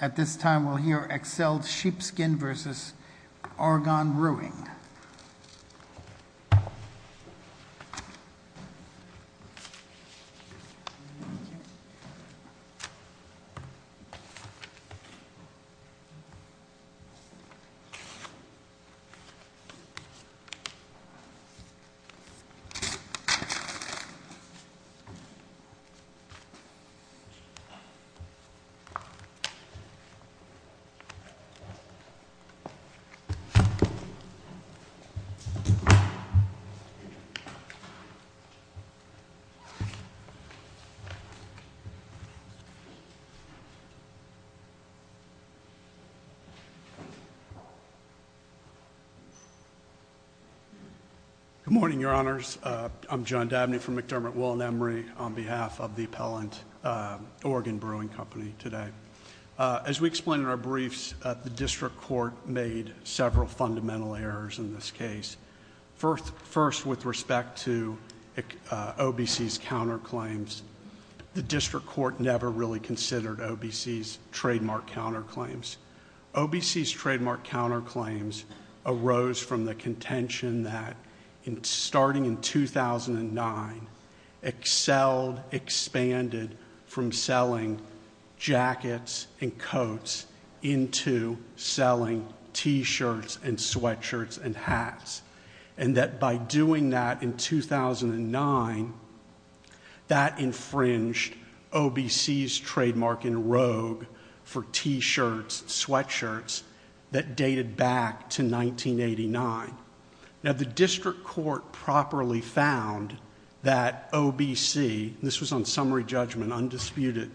At this time we'll hear Excelled Sheepskin vs. Argonne Brewing. Good morning, Your Honors. I'm John Dabney from McDermott Woolen Emory on behalf of the Appellant Argonne Brewing Company today. As we explained in our briefs, the district court made several fundamental errors in this case. First, with respect to OBC's counterclaims, the district court never really considered OBC's trademark counterclaims. OBC's trademark counterclaims arose from the contention that starting in 2009, Excelled Expanded from selling jackets and coats into selling t-shirts and sweatshirts and hats. And that by doing that in 2009, that infringed OBC's trademark in rogue for t-shirts, sweatshirts that dated back to 1989. Now the district court properly found that OBC, this was on summary judgment, undisputed,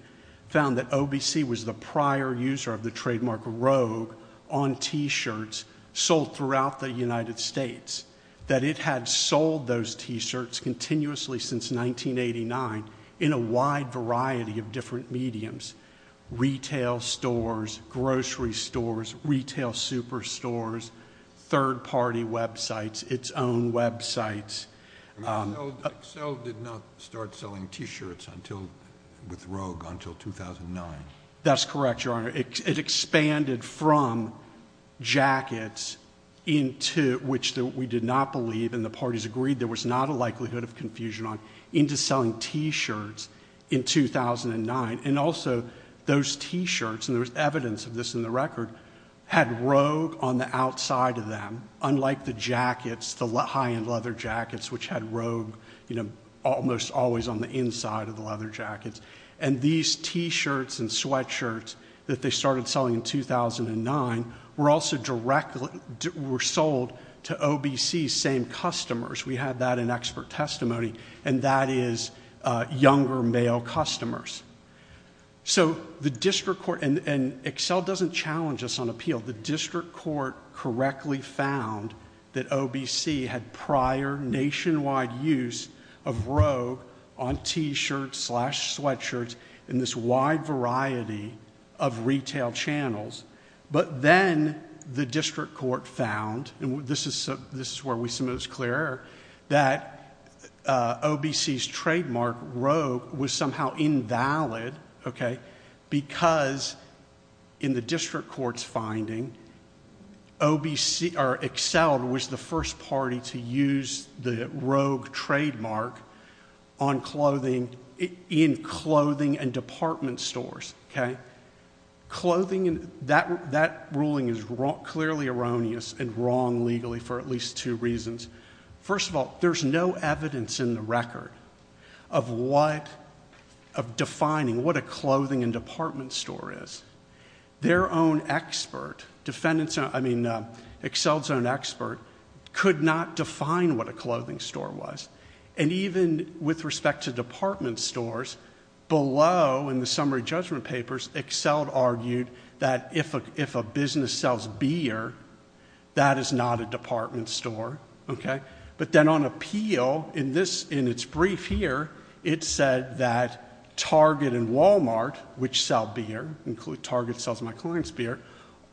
found that OBC was the prior user of the trademark rogue on t-shirts sold throughout the United States. That it had sold those t-shirts continuously since 1989 in a wide variety of different websites. Its own websites. I mean, Excelled did not start selling t-shirts with rogue until 2009. That's correct, Your Honor. It expanded from jackets into, which we did not believe and the parties agreed there was not a likelihood of confusion on, into selling t-shirts in 2009. And also, those t-shirts, and there was evidence of this in the record, had rogue on the outside of them, unlike the jackets, the high-end leather jackets, which had rogue, you know, almost always on the inside of the leather jackets. And these t-shirts and sweatshirts that they started selling in 2009 were also directly, were sold to OBC's same customers. We had that in expert testimony, and that is younger male customers. So the district court, and Excelled doesn't challenge us on appeal. The district court correctly found that OBC had prior nationwide use of rogue on t-shirts slash sweatshirts in this wide variety of retail channels. But then, the district court found, and this is where we see most clear error, that OBC's finding, OBC, or Excelled was the first party to use the rogue trademark on clothing, in clothing and department stores, okay? Clothing and, that, that ruling is wrong, clearly erroneous and wrong legally for at least two reasons. First of all, there's no evidence in the record of what, of defining what a clothing and department store is. Their own expert, defendants, I mean, Excelled's own expert could not define what a clothing store was. And even with respect to department stores, below in the summary judgment papers, Excelled argued that if a, if a business sells beer, that is not a department store, okay? But then on appeal, in this, in its brief here, it said that Target and Walmart, which sell beer, include Target sells my client's beer,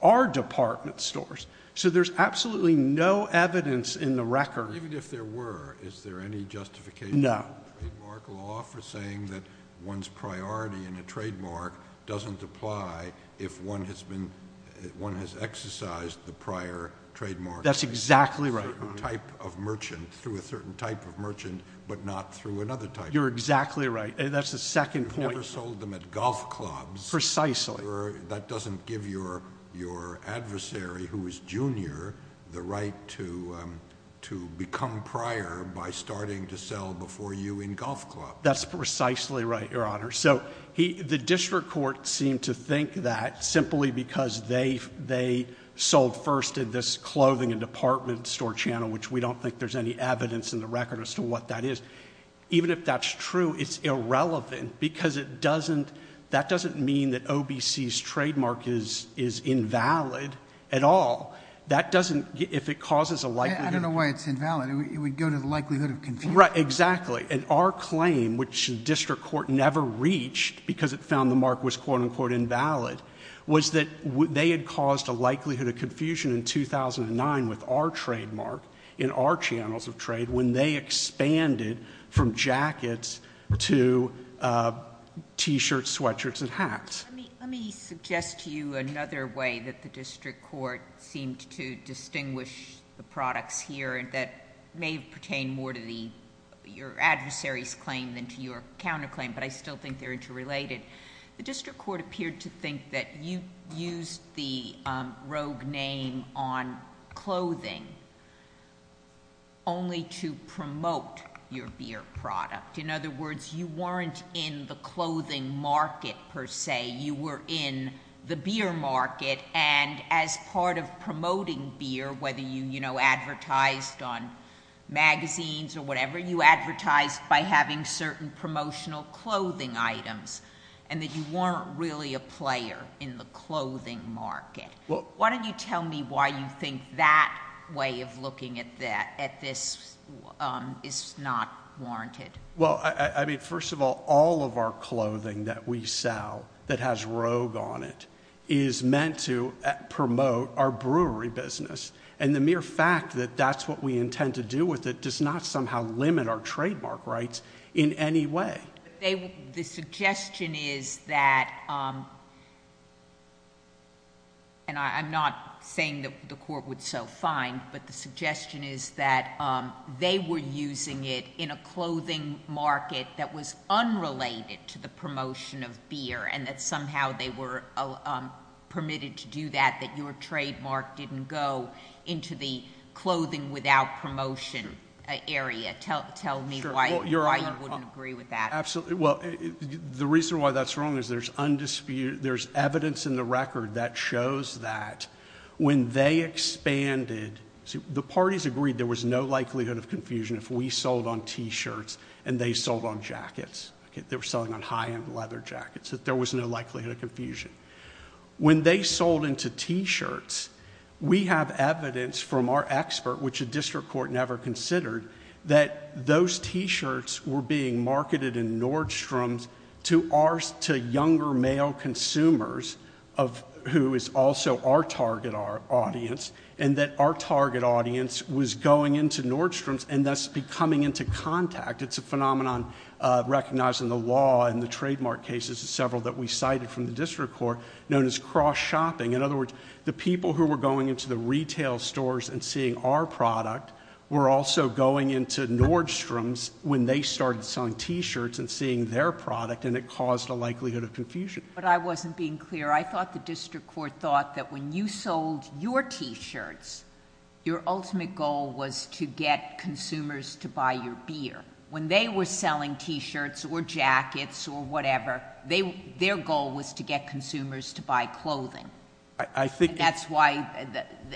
are department stores. So there's absolutely no evidence in the record. Even if there were, is there any justification in the trademark law for saying that one's priority in a trademark doesn't apply if one has been, one has exercised the prior trademark. That's exactly right. Through a certain type of merchant, through a certain type of merchant, but not through another type of merchant. You're exactly right. That's the second point. You never sold them at golf clubs. Precisely. That doesn't give your, your adversary who is junior, the right to, um, to become prior by starting to sell before you in golf clubs. That's precisely right, your honor. So he, the district court seemed to think that simply because they, they sold first in this clothing and department store channel, which we don't think there's any evidence in the record as to what that is. Even if that's true, it's irrelevant because it doesn't, that doesn't mean that OBC's trademark is, is invalid at all. That doesn't, if it causes a likelihood... I don't know why it's invalid. It would go to the likelihood of confusion. Right. Exactly. And our claim, which district court never reached because it found the mark was quote unquote invalid, was that they had caused a likelihood of confusion in 2009 with our trademark, in our channels of trade, when they expanded from jackets to, uh, t-shirts, sweatshirts, and hats. Let me, let me suggest to you another way that the district court seemed to distinguish the products here that may pertain more to the, your adversary's claim than to your counterclaim, but I still think they're interrelated. The district court appeared to think that you used the, um, rogue name on clothing only to promote your beer product. In other words, you weren't in the clothing market per se, you were in the beer market and as part of promoting beer, whether you, you know, advertised on magazines or whatever, you advertised by having certain promotional clothing items and that you weren't really a player in the clothing market. Why don't you tell me why you think that way of looking at that, at this, um, is not warranted? Well, I, I mean, first of all, all of our clothing that we sell that has rogue on it is meant to promote our brewery business and the mere fact that that's what we intend to do with it does not somehow limit our trademark rights in any way. They, the suggestion is that, um, and I'm not saying that the court would so find, but the suggestion is that, um, they were using it in a clothing market that was unrelated to the promotion of beer and that somehow they were permitted to do that, that your promotion area, tell, tell me why you wouldn't agree with that. Absolutely. Well, the reason why that's wrong is there's undisputed, there's evidence in the record that shows that when they expanded, the parties agreed there was no likelihood of confusion if we sold on t-shirts and they sold on jackets, okay, they were selling on high end leather jackets, that there was no likelihood of confusion. When they sold into t-shirts, we have evidence from our expert, which a district court never considered, that those t-shirts were being marketed in Nordstrom's to our, to younger male consumers of, who is also our target audience and that our target audience was going into Nordstrom's and thus becoming into contact. It's a phenomenon, uh, recognized in the law and the trademark cases, several that we cited from the district court, known as cross shopping, in other words, the people who were going into the retail stores and seeing our product were also going into Nordstrom's when they started selling t-shirts and seeing their product and it caused a likelihood of confusion. But I wasn't being clear, I thought the district court thought that when you sold your t-shirts, your ultimate goal was to get consumers to buy your beer. When they were selling t-shirts or jackets or whatever, they, their goal was to get consumers to buy clothing. I, I think... And that's why,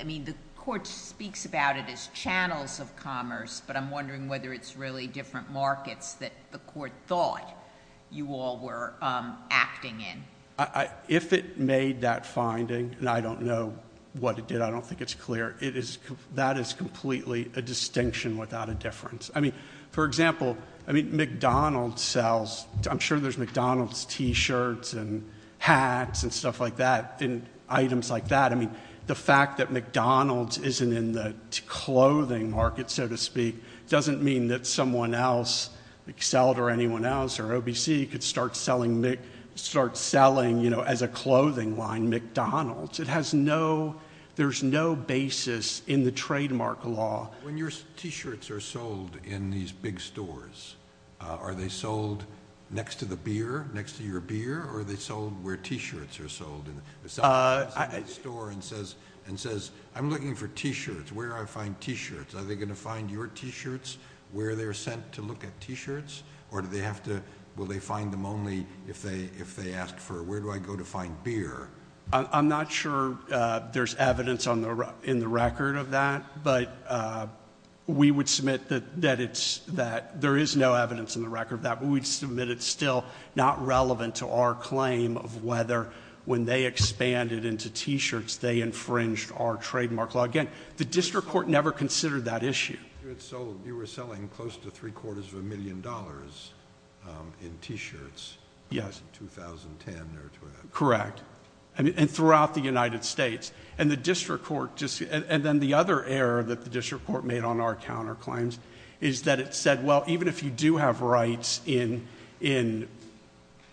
I mean, the court speaks about it as channels of commerce, but I'm wondering whether it's really different markets that the court thought you all were, um, acting in. I, I, if it made that finding, and I don't know what it did, I don't think it's clear, it is, that is completely a distinction without a difference. I mean, for example, I mean, McDonald's sells, I'm sure there's McDonald's t-shirts and hats and stuff like that, and items like that. I mean, the fact that McDonald's isn't in the clothing market, so to speak, doesn't mean that someone else, Excel or anyone else, or OBC could start selling, start selling, you know, as a clothing line, McDonald's. It has no, there's no basis in the trademark law. When your t-shirts are sold in these big stores, uh, are they sold next to the beer, next to your beer, or are they sold where t-shirts are sold in the... Uh, I... If someone walks into a store and says, and says, I'm looking for t-shirts, where do I find t-shirts? Are they going to find your t-shirts where they're sent to look at t-shirts, or do they have to, will they find them only if they, if they ask for, where do I go to find beer? I'm not sure, uh, there's evidence on the, in the record of that, but, uh, we would submit that, that it's, that there is no evidence in the record of that, but we'd submit it's still not relevant to our claim of whether, when they expanded into t-shirts, they infringed our trademark law. Again, the district court never considered that issue. You had sold, you were selling close to three quarters of a million dollars, um, in t-shirts. Yes. 2010, there or 20... I mean, and throughout the United States, and the district court just, and then the other error that the district court made on our counterclaims is that it said, well, even if you do have rights in, in,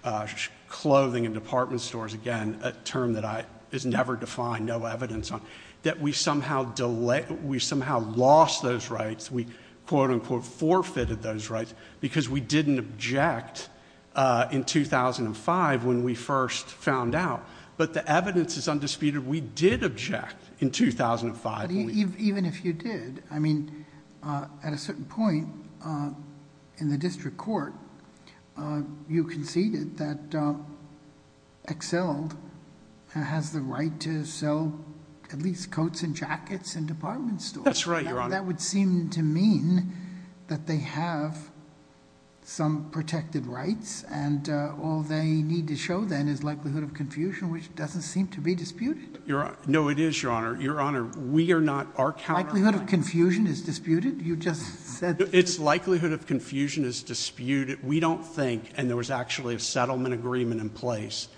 uh, clothing and department stores, again, a term that I, is never defined, no evidence on, that we somehow delay, we somehow lost those rights. We quote unquote forfeited those rights because we didn't object, uh, in 2005 when we first found out, but the evidence is undisputed. We did object in 2005, I believe. Even if you did, I mean, uh, at a certain point, uh, in the district court, uh, you conceded that, uh, Excelled has the right to sell at least coats and jackets in department stores. That's right, Your Honor. That would seem to mean that they have some protected rights and, uh, all they need to show then is likelihood of confusion, which doesn't seem to be disputed. You're right. No, it is, Your Honor. Your Honor. We are not, our counterclaims... Likelihood of confusion is disputed? You just said... It's likelihood of confusion is disputed. We don't think, and there was actually a settlement agreement in place,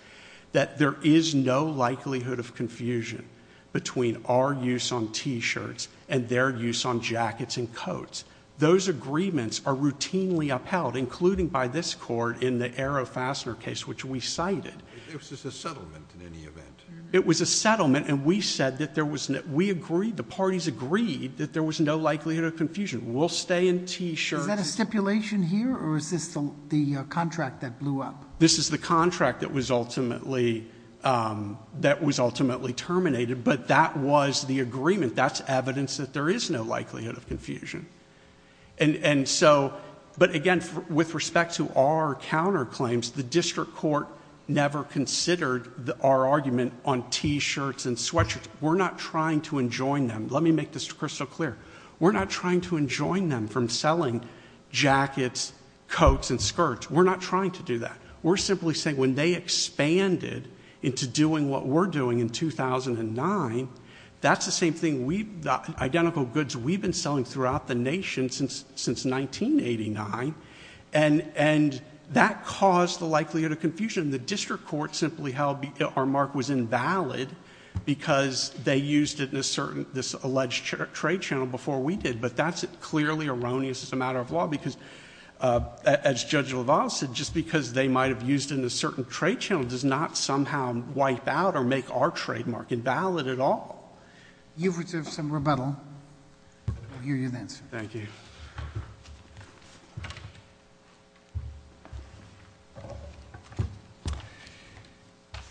that there is no likelihood of confusion between our use on t-shirts and their use on jackets and coats. Those agreements are routinely upheld, including by this court in the arrow fastener case, which we cited. It was just a settlement in any event? It was a settlement, and we said that there was no... We agreed, the parties agreed that there was no likelihood of confusion. We'll stay in t-shirts... Is that a stipulation here, or is this the contract that blew up? This is the contract that was ultimately, um, that was ultimately terminated, but that was the agreement. That's evidence that there is no likelihood of confusion. And, and so... But again, with respect to our counterclaims, the district court never considered our argument on t-shirts and sweatshirts. We're not trying to enjoin them. Let me make this crystal clear. We're not trying to enjoin them from selling jackets, coats, and skirts. We're not trying to do that. We're simply saying when they expanded into doing what we're doing in 2009, that's the same thing we've... the identical goods we've been selling throughout the nation since, since 1989, and, and that caused the likelihood of confusion. The district court simply held our mark was invalid because they used it in a certain, this alleged trade channel before we did. But that's clearly erroneous as a matter of law because, uh, as Judge LaValle said, just because they might have used it in a certain trade channel does not somehow wipe out or make our trademark invalid at all. You've received some rebuttal. I'll give you an answer. Thank you. Good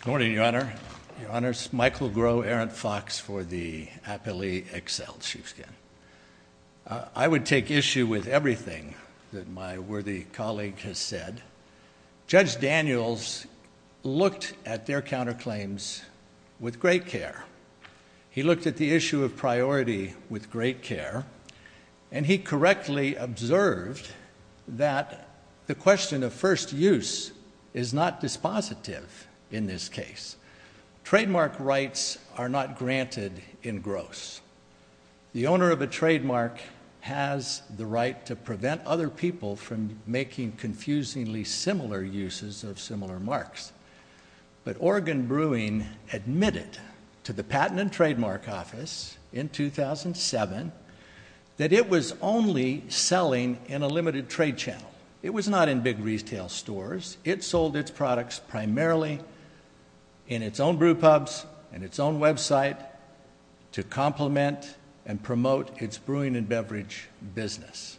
morning, Your Honor. Your Honors. Michael Groh, Errant Fox for the Appellee Excelled Chiefsgain. I would take issue with everything that my worthy colleague has said. Judge Daniels looked at their counterclaims with great care. He looked at the issue of priority with great care, and he correctly observed that the question of first use is not dispositive in this case. Trademark rights are not granted in gross. The owner of a trademark has the right to prevent other people from making confusingly similar uses of similar marks. But Oregon Brewing admitted to the Patent and Trademark Office in 2007 that it was only selling in a limited trade channel. It was not in big retail stores. It sold its products primarily in its own brew pubs and its own website to complement and promote its brewing and beverage business.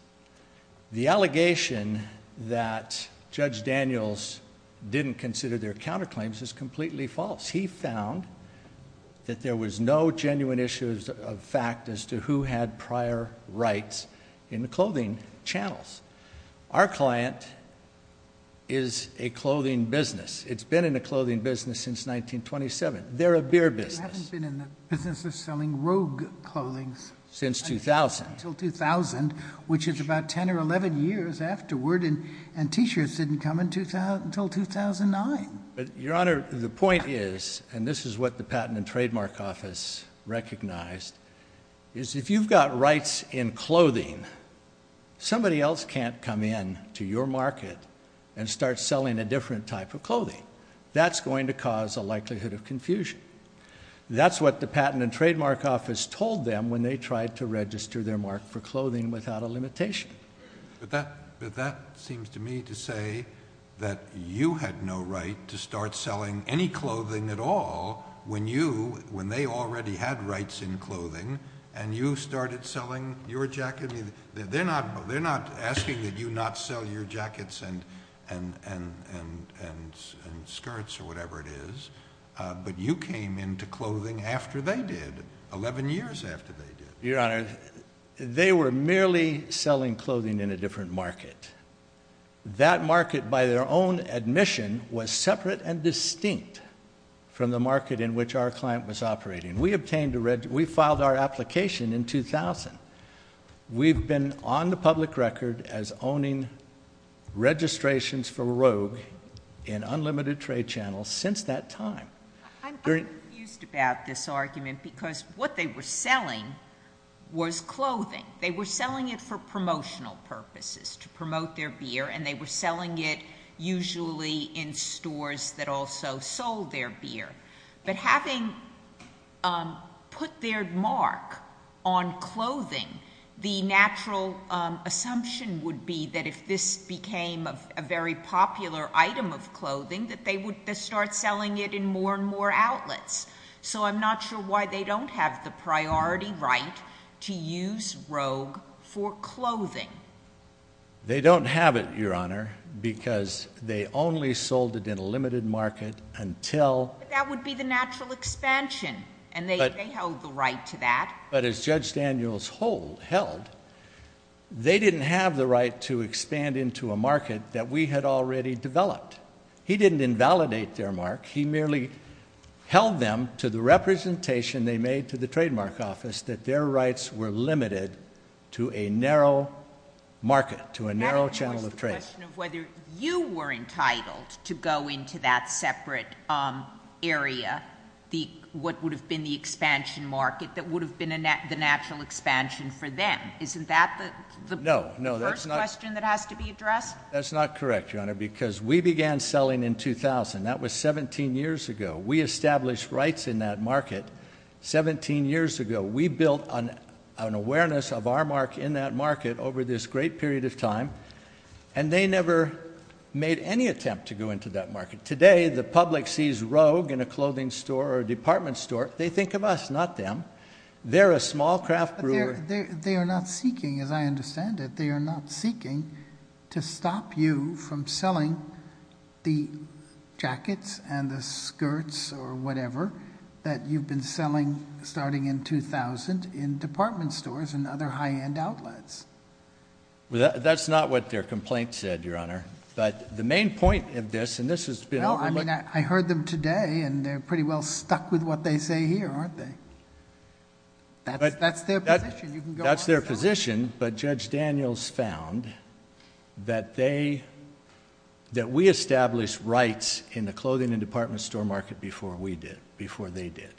The allegation that Judge Daniels didn't consider their counterclaims is completely false. He found that there was no genuine issue of fact as to who had prior rights in the clothing channels. Our client is a clothing business. It's been in a clothing business since 1927. They're a beer business. You haven't been in the business of selling rogue clothing since 2000. Until 2000, which is about 10 or 11 years afterward, and t-shirts didn't come until 2009. But, Your Honor, the point is, and this is what the Patent and Trademark Office recognized, is if you've got rights in clothing, somebody else can't come in to your market and start selling a different type of clothing. That's going to cause a likelihood of confusion. That's what the Patent and Trademark Office told them when they tried to register their mark for clothing without a limitation. But that seems to me to say that you had no right to start selling any clothing at all when you, when they already had rights in clothing, and you started selling your jacket. They're not asking that you not sell your jackets and skirts or whatever it is, but you came into clothing after they did, 11 years after they did. Your Honor, they were merely selling clothing in a different market. That market, by their own admission, was separate and distinct from the market in which our client was operating. We obtained a, we filed our application in 2000. We've been on the public record as owning registrations for rogue in unlimited trade channels since that time. I'm confused about this argument, because what they were selling was clothing. They were selling it for promotional purposes, to promote their beer, and they were selling it usually in stores that also sold their beer. But having put their mark on clothing, the natural assumption would be that if this became a very popular item of clothing, that they would start selling it in more and more outlets. So I'm not sure why they don't have the priority right to use rogue for clothing. They don't have it, Your Honor, because they only sold it in a limited market until- That would be the natural expansion, and they held the right to that. But as Judge Daniels held, they didn't have the right to expand into a market that we had already developed. He didn't invalidate their mark. He merely held them to the representation they made to the trademark office, that their rights were limited to a narrow market, to a narrow channel of trade. Whether you were entitled to go into that separate area, what would have been the expansion market that would have been the natural expansion for them. Isn't that the first question that has to be addressed? That's not correct, Your Honor, because we began selling in 2000. That was 17 years ago. We established rights in that market 17 years ago. We built an awareness of our mark in that market over this great period of time. And they never made any attempt to go into that market. Today, the public sees rogue in a clothing store or a department store. They think of us, not them. They're a small craft brewer. They are not seeking, as I understand it, they are not seeking to stop you from selling the jackets and the skirts, or whatever, that you've been selling starting in 2000 in department stores and other high-end outlets. That's not what their complaint said, Your Honor. But the main point of this, and this has been overlooked- No, I mean, I heard them today, and they're pretty well stuck with what they say here, aren't they? That's their position, you can go on. That's their position, but Judge Daniels found that we established rights in the clothing and department store market before we did, before they did.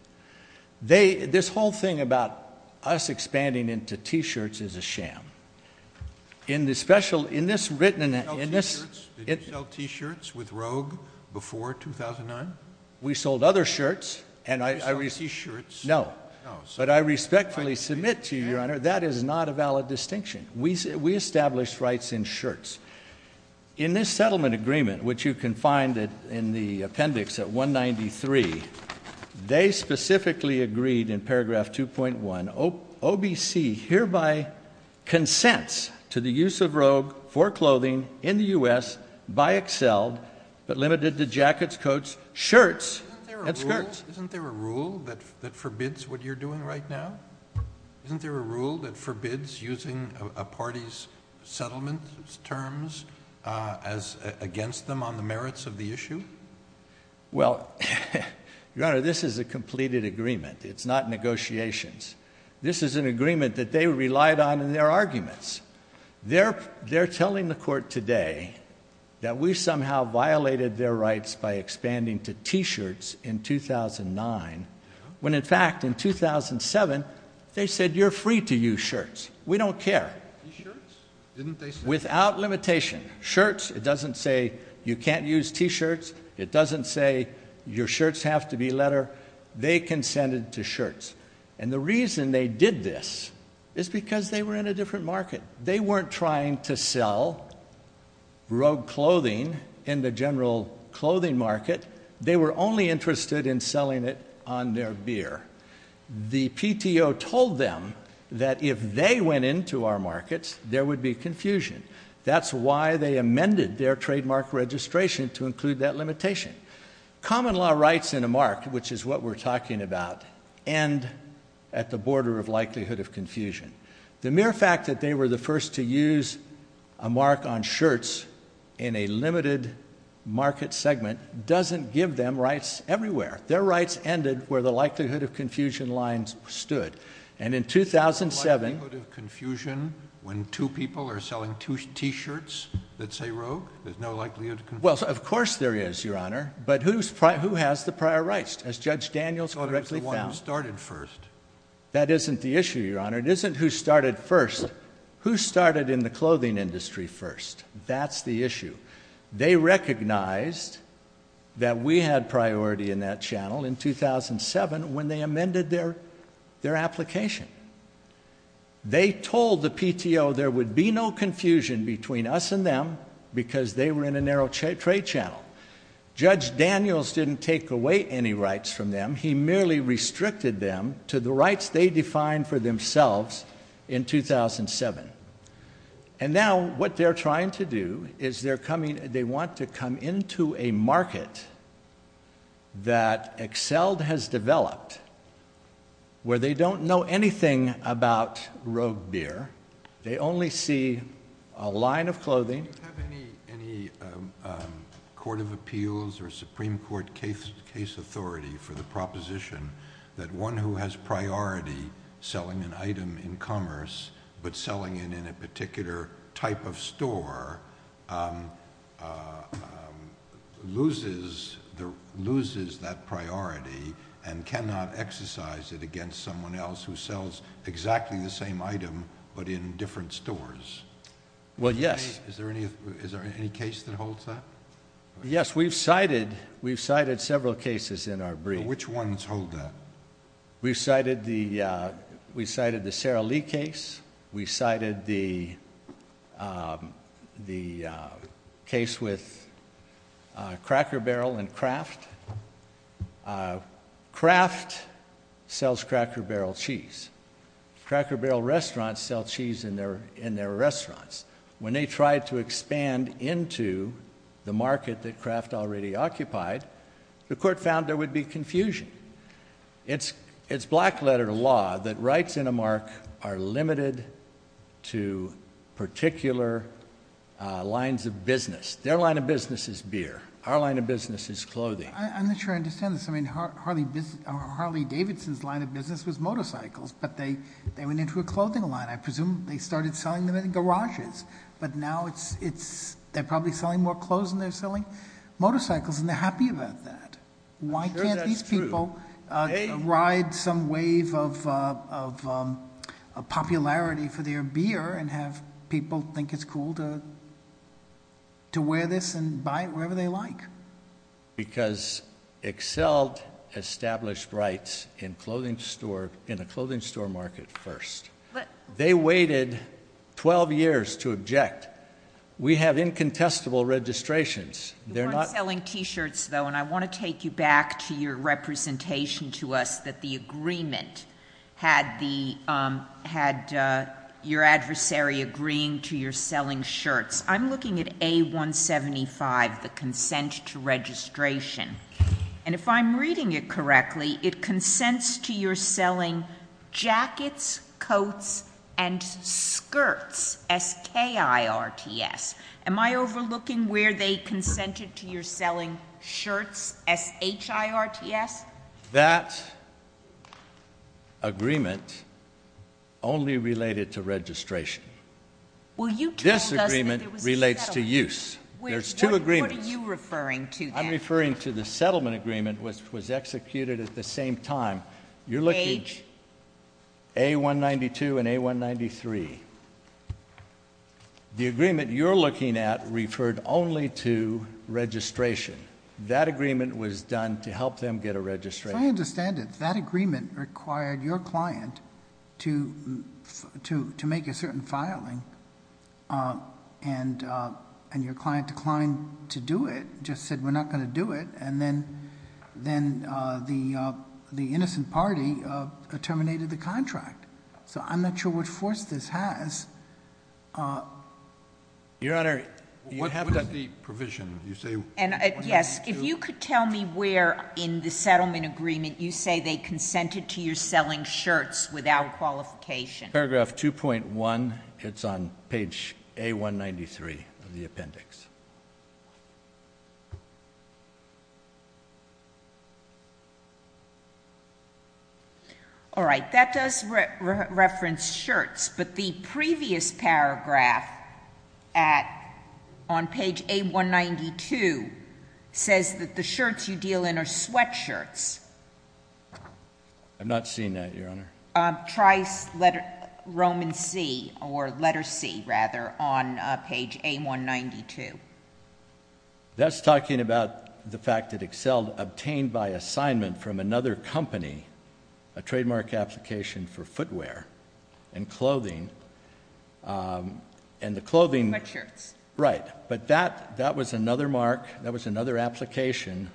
This whole thing about us expanding into t-shirts is a sham. In this special, in this written, in this- Did you sell t-shirts with rogue before 2009? We sold other shirts, and I- You sold t-shirts. But I respectfully submit to you, Your Honor, that is not a valid distinction. We established rights in shirts. In this settlement agreement, which you can find in the appendix at 193, they specifically agreed in paragraph 2.1, OBC hereby consents to the use of rogue for clothing in the US by Excel, but limited to jackets, coats, shirts, and skirts. Isn't there a rule that forbids what you're doing right now? Isn't there a rule that forbids using a party's settlement terms against them on the merits of the issue? Well, Your Honor, this is a completed agreement. It's not negotiations. This is an agreement that they relied on in their arguments. They're telling the court today that we somehow violated their rights by expanding to t-shirts in 2009 when, in fact, in 2007, they said, you're free to use shirts. We don't care. T-shirts? Didn't they say that? Without limitation. Shirts, it doesn't say you can't use t-shirts. It doesn't say your shirts have to be leather. They consented to shirts. And the reason they did this is because they were in a different market. They weren't trying to sell rogue clothing in the general clothing market. They were only interested in selling it on their beer. The PTO told them that if they went into our markets, there would be confusion. That's why they amended their trademark registration to include that limitation. Common law rights in a market, which is what we're talking about, end at the border of likelihood of confusion. The mere fact that they were the first to use a mark on shirts in a limited market segment doesn't give them rights everywhere. Their rights ended where the likelihood of confusion lines stood. And in 2007- Likelihood of confusion when two people are selling two t-shirts that say rogue? There's no likelihood of confusion? Well, of course there is, Your Honor. But who has the prior rights, as Judge Daniels correctly found? I thought it was the one who started first. That isn't the issue, Your Honor. It isn't who started first. Who started in the clothing industry first? That's the issue. They recognized that we had priority in that channel in 2007, when they amended their application. They told the PTO there would be no confusion between us and them because they were in a narrow trade channel. Judge Daniels didn't take away any rights from them. He merely restricted them to the rights they defined for themselves in 2007. And now, what they're trying to do is they want to come into a market that Excelled has developed, where they don't know anything about rogue beer. They only see a line of clothing- Do you have any court of appeals or proposition that one who has priority selling an item in commerce, but selling it in a particular type of store, loses that priority and cannot exercise it against someone else who sells exactly the same item, but in different stores? Well, yes. Is there any case that holds that? Yes, we've cited several cases in our brief. Which ones hold that? We cited the Sarah Lee case. We cited the case with Cracker Barrel and Kraft. Kraft sells Cracker Barrel cheese. Cracker Barrel restaurants sell cheese in their restaurants. When they tried to expand into the market that Kraft already occupied, the court found there would be confusion. It's black letter law that rights in a mark are limited to particular lines of business. Their line of business is beer. Our line of business is clothing. I'm not sure I understand this. I mean, Harley Davidson's line of business was motorcycles, but they went into a clothing line. I presume they started selling them in garages. But now they're probably selling more clothes than they're selling motorcycles, and they're happy about that. Why can't these people ride some wave of popularity for their beer and have people think it's cool to wear this and buy it wherever they like? Because Excel established rights in a clothing store market first. They waited 12 years to object. We have incontestable registrations. They're not- You weren't selling t-shirts though, and I want to take you back to your representation to us that the agreement had your adversary agreeing to your selling shirts. I'm looking at A175, the consent to registration. And if I'm reading it correctly, it consents to your selling jackets, coats, and skirts, S-K-I-R-T-S. Am I overlooking where they consented to your selling shirts, S-H-I-R-T-S? That agreement only related to registration. Well, you told us that there was a settlement. This agreement relates to use. There's two agreements. What are you referring to then? I'm referring to the settlement agreement, which was executed at the same time. You're looking at A192 and A193. The agreement you're looking at referred only to registration. That agreement was done to help them get a registration. I understand it. That agreement required your client to make a certain filing. And your client declined to do it, just said, we're not going to do it. And then the innocent party terminated the contract. So I'm not sure what force this has. Your Honor, what was the provision? You say A192? Yes, if you could tell me where in the settlement agreement you say they consented to your selling shirts without qualification. Paragraph 2.1, it's on page A193 of the appendix. All right, that does reference shirts. But the previous paragraph on page A192 says that the shirts you deal in are sweatshirts. I'm not seeing that, Your Honor. Trice letter, Roman C, or letter C, rather, on page A192. That's talking about the fact that Excel obtained by assignment from another company a trademark application for footwear and clothing, and the clothing- Sweatshirts. Right, but that was another mark, that was another application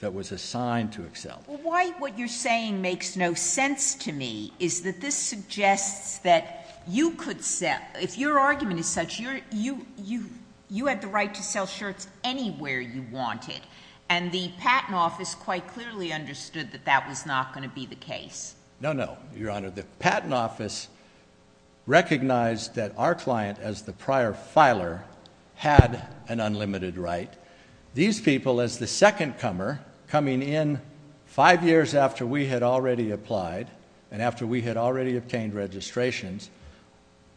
that was assigned to Excel. Why what you're saying makes no sense to me is that this suggests that if your argument is such, you had the right to sell shirts anywhere you wanted. And the patent office quite clearly understood that that was not going to be the case. No, no, Your Honor. The patent office recognized that our client, as the prior filer, had an unlimited right. These people, as the second comer, coming in five years after we had already applied, and after we had already obtained registrations,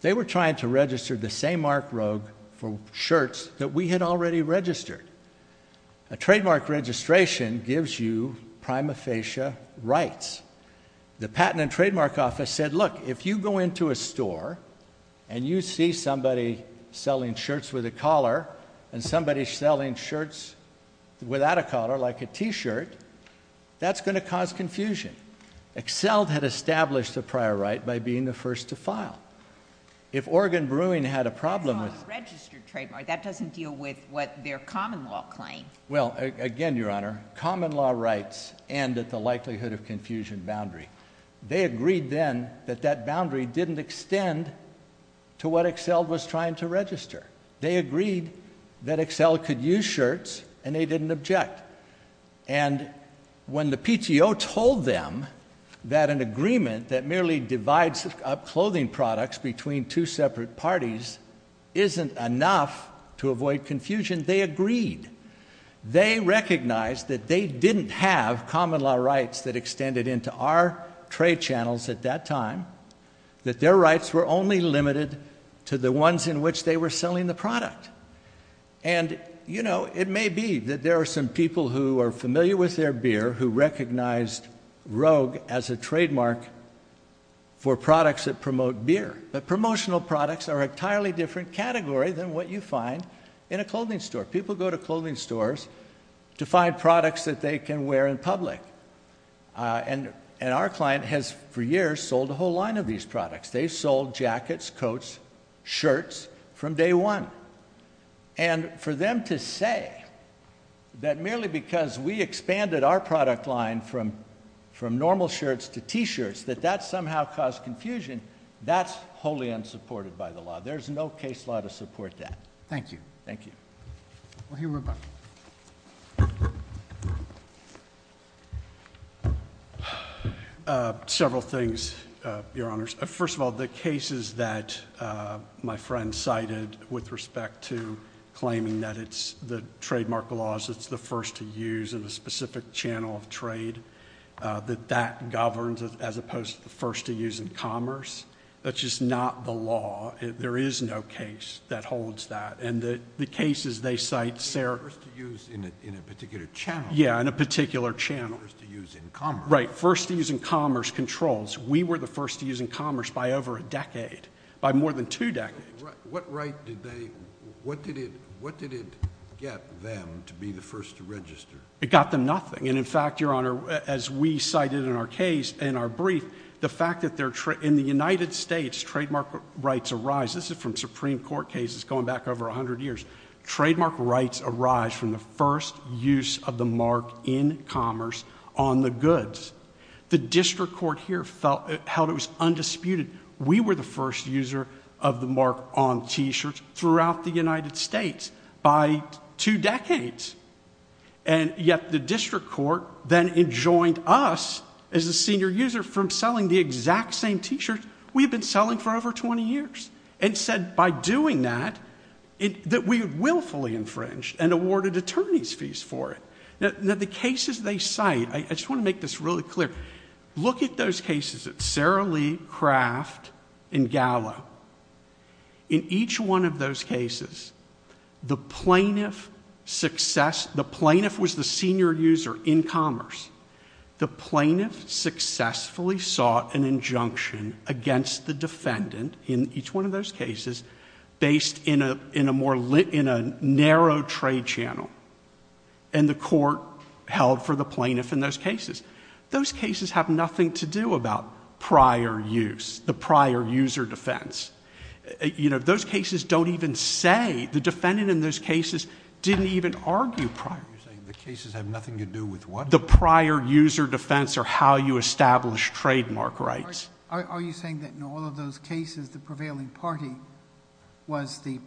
they were trying to register the same mark rogue for shirts that we had already registered. A trademark registration gives you prima facie rights. The patent and trademark office said, look, if you go into a store and you see somebody selling shirts with a collar, and somebody selling shirts without a collar, like a t-shirt, that's going to cause confusion. Excel had established a prior right by being the first to file. If Oregon Brewing had a problem with- That's not a registered trademark. That doesn't deal with what their common law claimed. Well, again, Your Honor, common law rights end at the likelihood of confusion boundary. They agreed then that that boundary didn't extend to what Excel was trying to register. They agreed that Excel could use shirts, and they didn't object. And when the PTO told them that an agreement that merely divides up clothing products between two separate parties isn't enough to avoid confusion, they agreed. They recognized that they didn't have common law rights that extended into our trade channels at that time, that their rights were only limited to the ones in which they were selling the product. And, you know, it may be that there are some people who are familiar with their beer who recognized Rogue as a trademark for products that promote beer. But promotional products are an entirely different category than what you find in a clothing store. People go to clothing stores to find products that they can wear in public. And our client has, for years, sold a whole line of these products. They've sold jackets, coats, shirts from day one. And for them to say that merely because we expanded our product line from normal shirts to T-shirts that that somehow caused confusion, that's wholly unsupported by the law. There's no case law to support that. Thank you. Thank you. Well, here we're back. Several things, Your Honors. First of all, the cases that my friend cited with respect to claiming that it's the trademark laws, it's the first to use in a specific channel of trade, that that governs as opposed to the first to use in commerce. That's just not the law. There is no case that holds that. And the cases they cite, Sarah... First to use in a particular channel. Yeah, in a particular channel. First to use in commerce. Right. First to use in commerce controls. We were the first to use in commerce by over a decade, by more than two decades. What right did they... What did it get them to be the first to register? It got them nothing. And in fact, Your Honor, as we cited in our brief, the fact that in the United States, trademark rights arise... This is from Supreme Court cases going back over 100 years. Trademark rights arise from the first use of the mark in commerce on the goods. The district court here felt it was undisputed. We were the first user of the mark on T-shirts throughout the United States by two decades. And yet the district court then enjoined us as a senior user from selling the exact same T-shirt we had been selling for over 20 years and said by doing that, that we had willfully infringed and awarded attorney's fees for it. Now, the cases they cite, I just want to make this really clear. Look at those cases at Sara Lee, Kraft, and Gallo. In each one of those cases, the plaintiff was the senior user in commerce. The plaintiff successfully sought an injunction against the defendant in each one of those cases based in a narrow trade channel. And the court held for the plaintiff in those cases. Those cases have nothing to do about prior use, the prior user defense. You know, those cases don't even say, the defendant in those cases didn't even argue prior... You're saying the cases have nothing to do with what? The prior user defense or how you establish trademark rights. Are you saying that in all of those cases, the prevailing party was the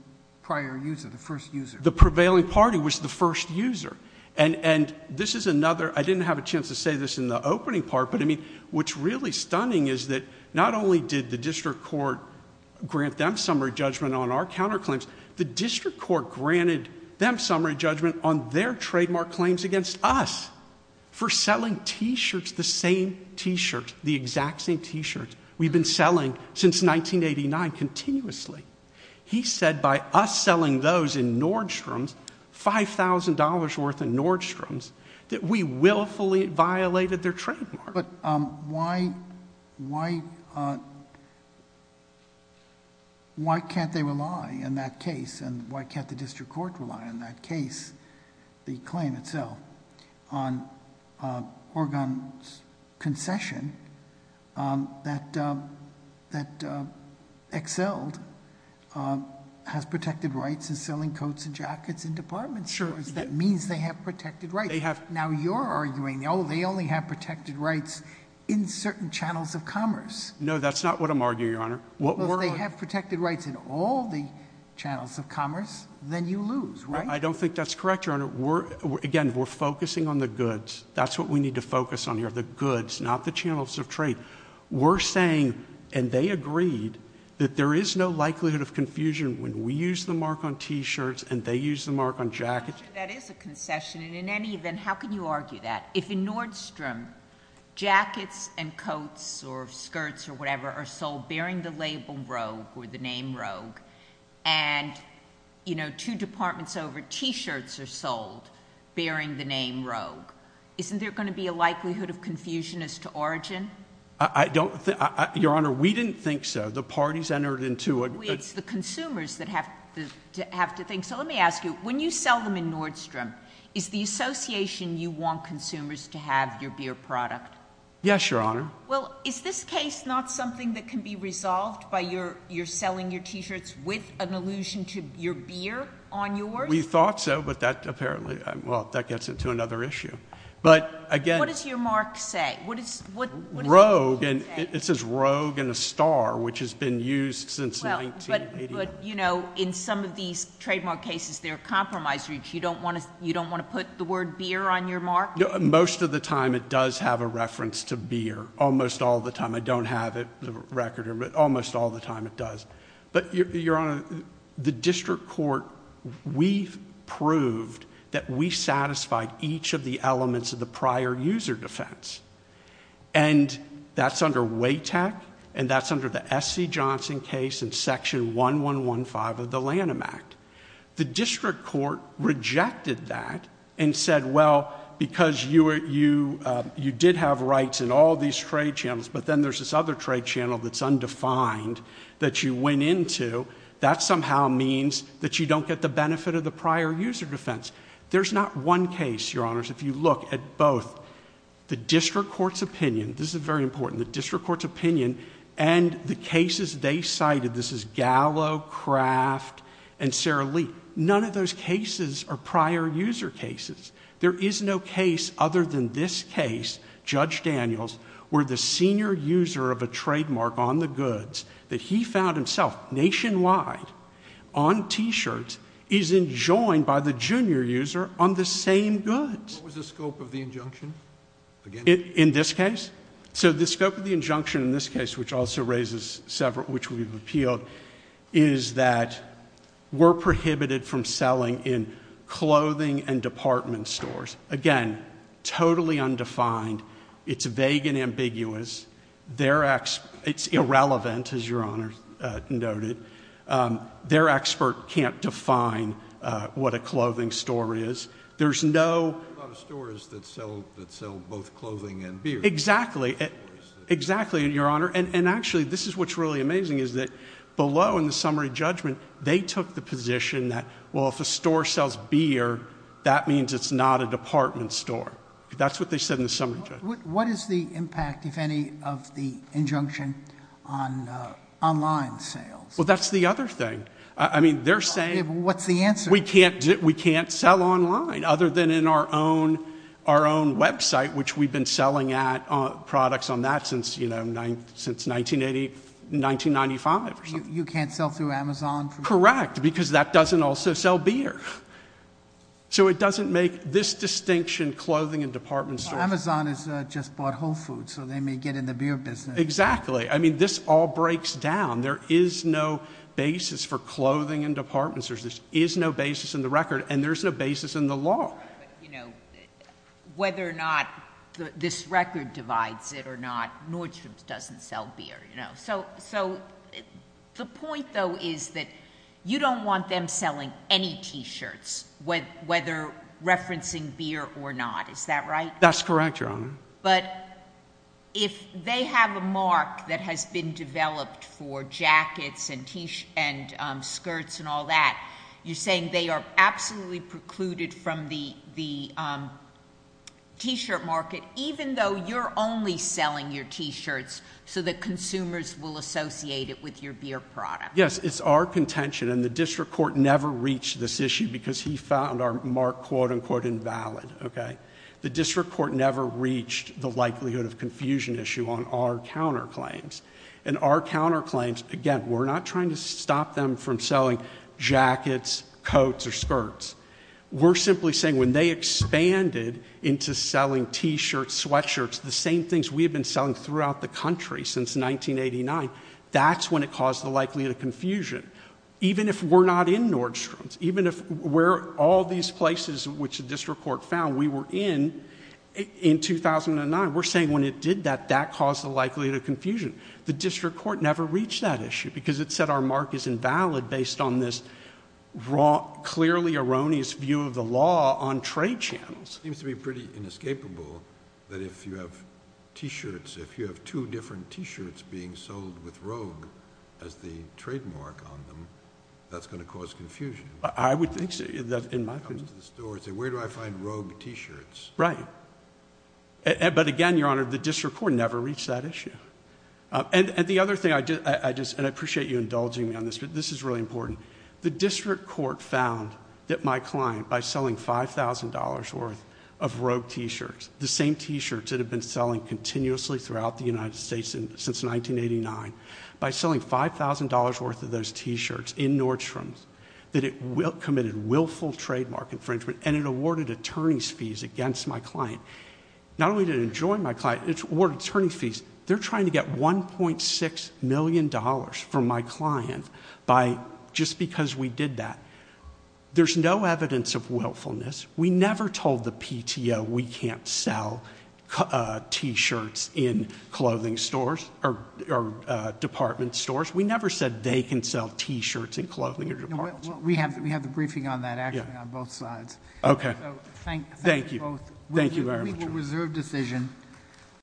prior user, the first user? The prevailing party was the first user. And this is another, I didn't have a chance to say this in the opening part, but I mean, what's really stunning is that not only did the district court grant them summary judgment on our counterclaims, the district court granted them summary judgment on their trademark claims against us. For selling t-shirts, the same t-shirts, the exact same t-shirts, we've been selling since 1989 continuously. He said by us selling those in Nordstrom's, $5,000 worth in Nordstrom's, that we willfully violated their trademark. But why can't they rely in that case, and why can't the district court rely in that case, the claim itself on Oregon's concession that Excelled has protected rights in selling coats and jackets in department stores. That means they have protected rights. Now you're arguing, they only have protected rights in certain channels of commerce. No, that's not what I'm arguing, Your Honor. What we're- If they have protected rights in all the channels of commerce, then you lose, right? I don't think that's correct, Your Honor. Again, we're focusing on the goods. That's what we need to focus on here, the goods, not the channels of trade. We're saying, and they agreed, that there is no likelihood of confusion when we use the mark on t-shirts and they use the mark on jackets. That is a concession, and in any event, how can you argue that? If in Nordstrom, jackets and coats or skirts or whatever are sold bearing the label Rogue or the name Rogue. And two departments over, t-shirts are sold bearing the name Rogue. Isn't there going to be a likelihood of confusion as to origin? I don't think, Your Honor, we didn't think so. The parties entered into a- It's the consumers that have to think. So let me ask you, when you sell them in Nordstrom, is the association you want consumers to have your beer product? Yes, Your Honor. Well, is this case not something that can be resolved by you're selling your t-shirts with an allusion to your beer on yours? We thought so, but that apparently, well, that gets into another issue. But again- What does your mark say? What does your mark say? Rogue, and it says Rogue and a star, which has been used since 1989. Well, but in some of these trademark cases, they're compromised, which you don't want to put the word beer on your mark? Most of the time, it does have a reference to beer, almost all the time. I don't have it, the record, but almost all the time, it does. But Your Honor, the district court, we've proved that we satisfied each of the elements of the prior user defense. And that's under WATEC, and that's under the SC Johnson case in Section 1115 of the Lanham Act. The district court rejected that and said, well, because you did have rights in all these trade channels, but then there's this other trade channel that's undefined that you went into. That somehow means that you don't get the benefit of the prior user defense. There's not one case, Your Honors, if you look at both. The district court's opinion, this is very important, the district court's opinion and the cases they cited, this is Gallo, Kraft, and Sara Lee. None of those cases are prior user cases. There is no case other than this case, Judge Daniels, where the senior user of a trademark on the goods that he found himself nationwide on t-shirts is enjoined by the junior user on the same goods. What was the scope of the injunction? Again. In this case? So the scope of the injunction in this case, which also raises several, which we've appealed, is that we're prohibited from selling in clothing and department stores. Again, totally undefined. It's vague and ambiguous. It's irrelevant, as Your Honor noted. Their expert can't define what a clothing store is. There's no- There's not a lot of stores that sell both clothing and beer. Exactly. Exactly, Your Honor. And actually, this is what's really amazing, is that below in the summary judgment, they took the position that, well, if a store sells beer, that means it's not a department store. That's what they said in the summary judgment. What is the impact, if any, of the injunction on online sales? Well, that's the other thing. I mean, they're saying- What's the answer? We can't sell online, other than in our own website, which we've been selling products on that since 1995 or something. You can't sell through Amazon? Correct, because that doesn't also sell beer. So it doesn't make this distinction, clothing and department stores. Amazon has just bought Whole Foods, so they may get in the beer business. Exactly. I mean, this all breaks down. There is no basis for clothing and department stores. There is no basis in the record, and there's no basis in the law. Right, but whether or not this record divides it or not, Nordstrom's doesn't sell beer. So the point, though, is that you don't want them selling any T-shirts, whether referencing beer or not. Is that right? That's correct, Your Honor. But if they have a mark that has been developed for jackets and skirts and all that, you're saying they are absolutely precluded from the T-shirt market, even though you're only selling your T-shirts so that consumers will associate it with your beer product? Yes, it's our contention, and the district court never reached this issue because he found our mark, quote-unquote, invalid, okay? The district court never reached the likelihood of confusion issue on our counterclaims. And our counterclaims, again, we're not trying to stop them from selling jackets, coats, or skirts. We're simply saying when they expanded into selling T-shirts, sweatshirts, the same things we have been selling throughout the country since 1989, that's when it caused the likelihood of confusion, even if we're not in Nordstrom's, even if we're all these places which the district court found we were in in 2009. We're saying when it did that, that caused the likelihood of confusion. The district court never reached that issue because it said our mark is invalid based on this clearly erroneous view of the law on trade channels. Seems to be pretty inescapable that if you have T-shirts, if you have two different T-shirts being sold with Rogue as the trademark on them, that's going to cause confusion. I would think so, in my opinion... comes to the store and say, where do I find Rogue T-shirts? Right. But again, Your Honor, the district court never reached that issue. And the other thing, and I appreciate you indulging me on this, but this is really important. The district court found that my client, by selling $5,000 worth of Rogue T-shirts, the same T-shirts that have been selling continuously throughout the United States since 1989, by selling $5,000 worth of those T-shirts in Nordstrom's, that it committed willful trademark infringement and it awarded attorney's fees against my client. Not only did it enjoy my client, it awarded attorney's fees. They're trying to get $1.6 million from my client just because we did that. There's no evidence of willfulness. We never told the PTO we can't sell T-shirts in clothing stores or department stores. We never said they can sell T-shirts in clothing or department stores. We have the briefing on that, actually, on both sides. Okay. Thank you. Thank you very much. We will reserve decision.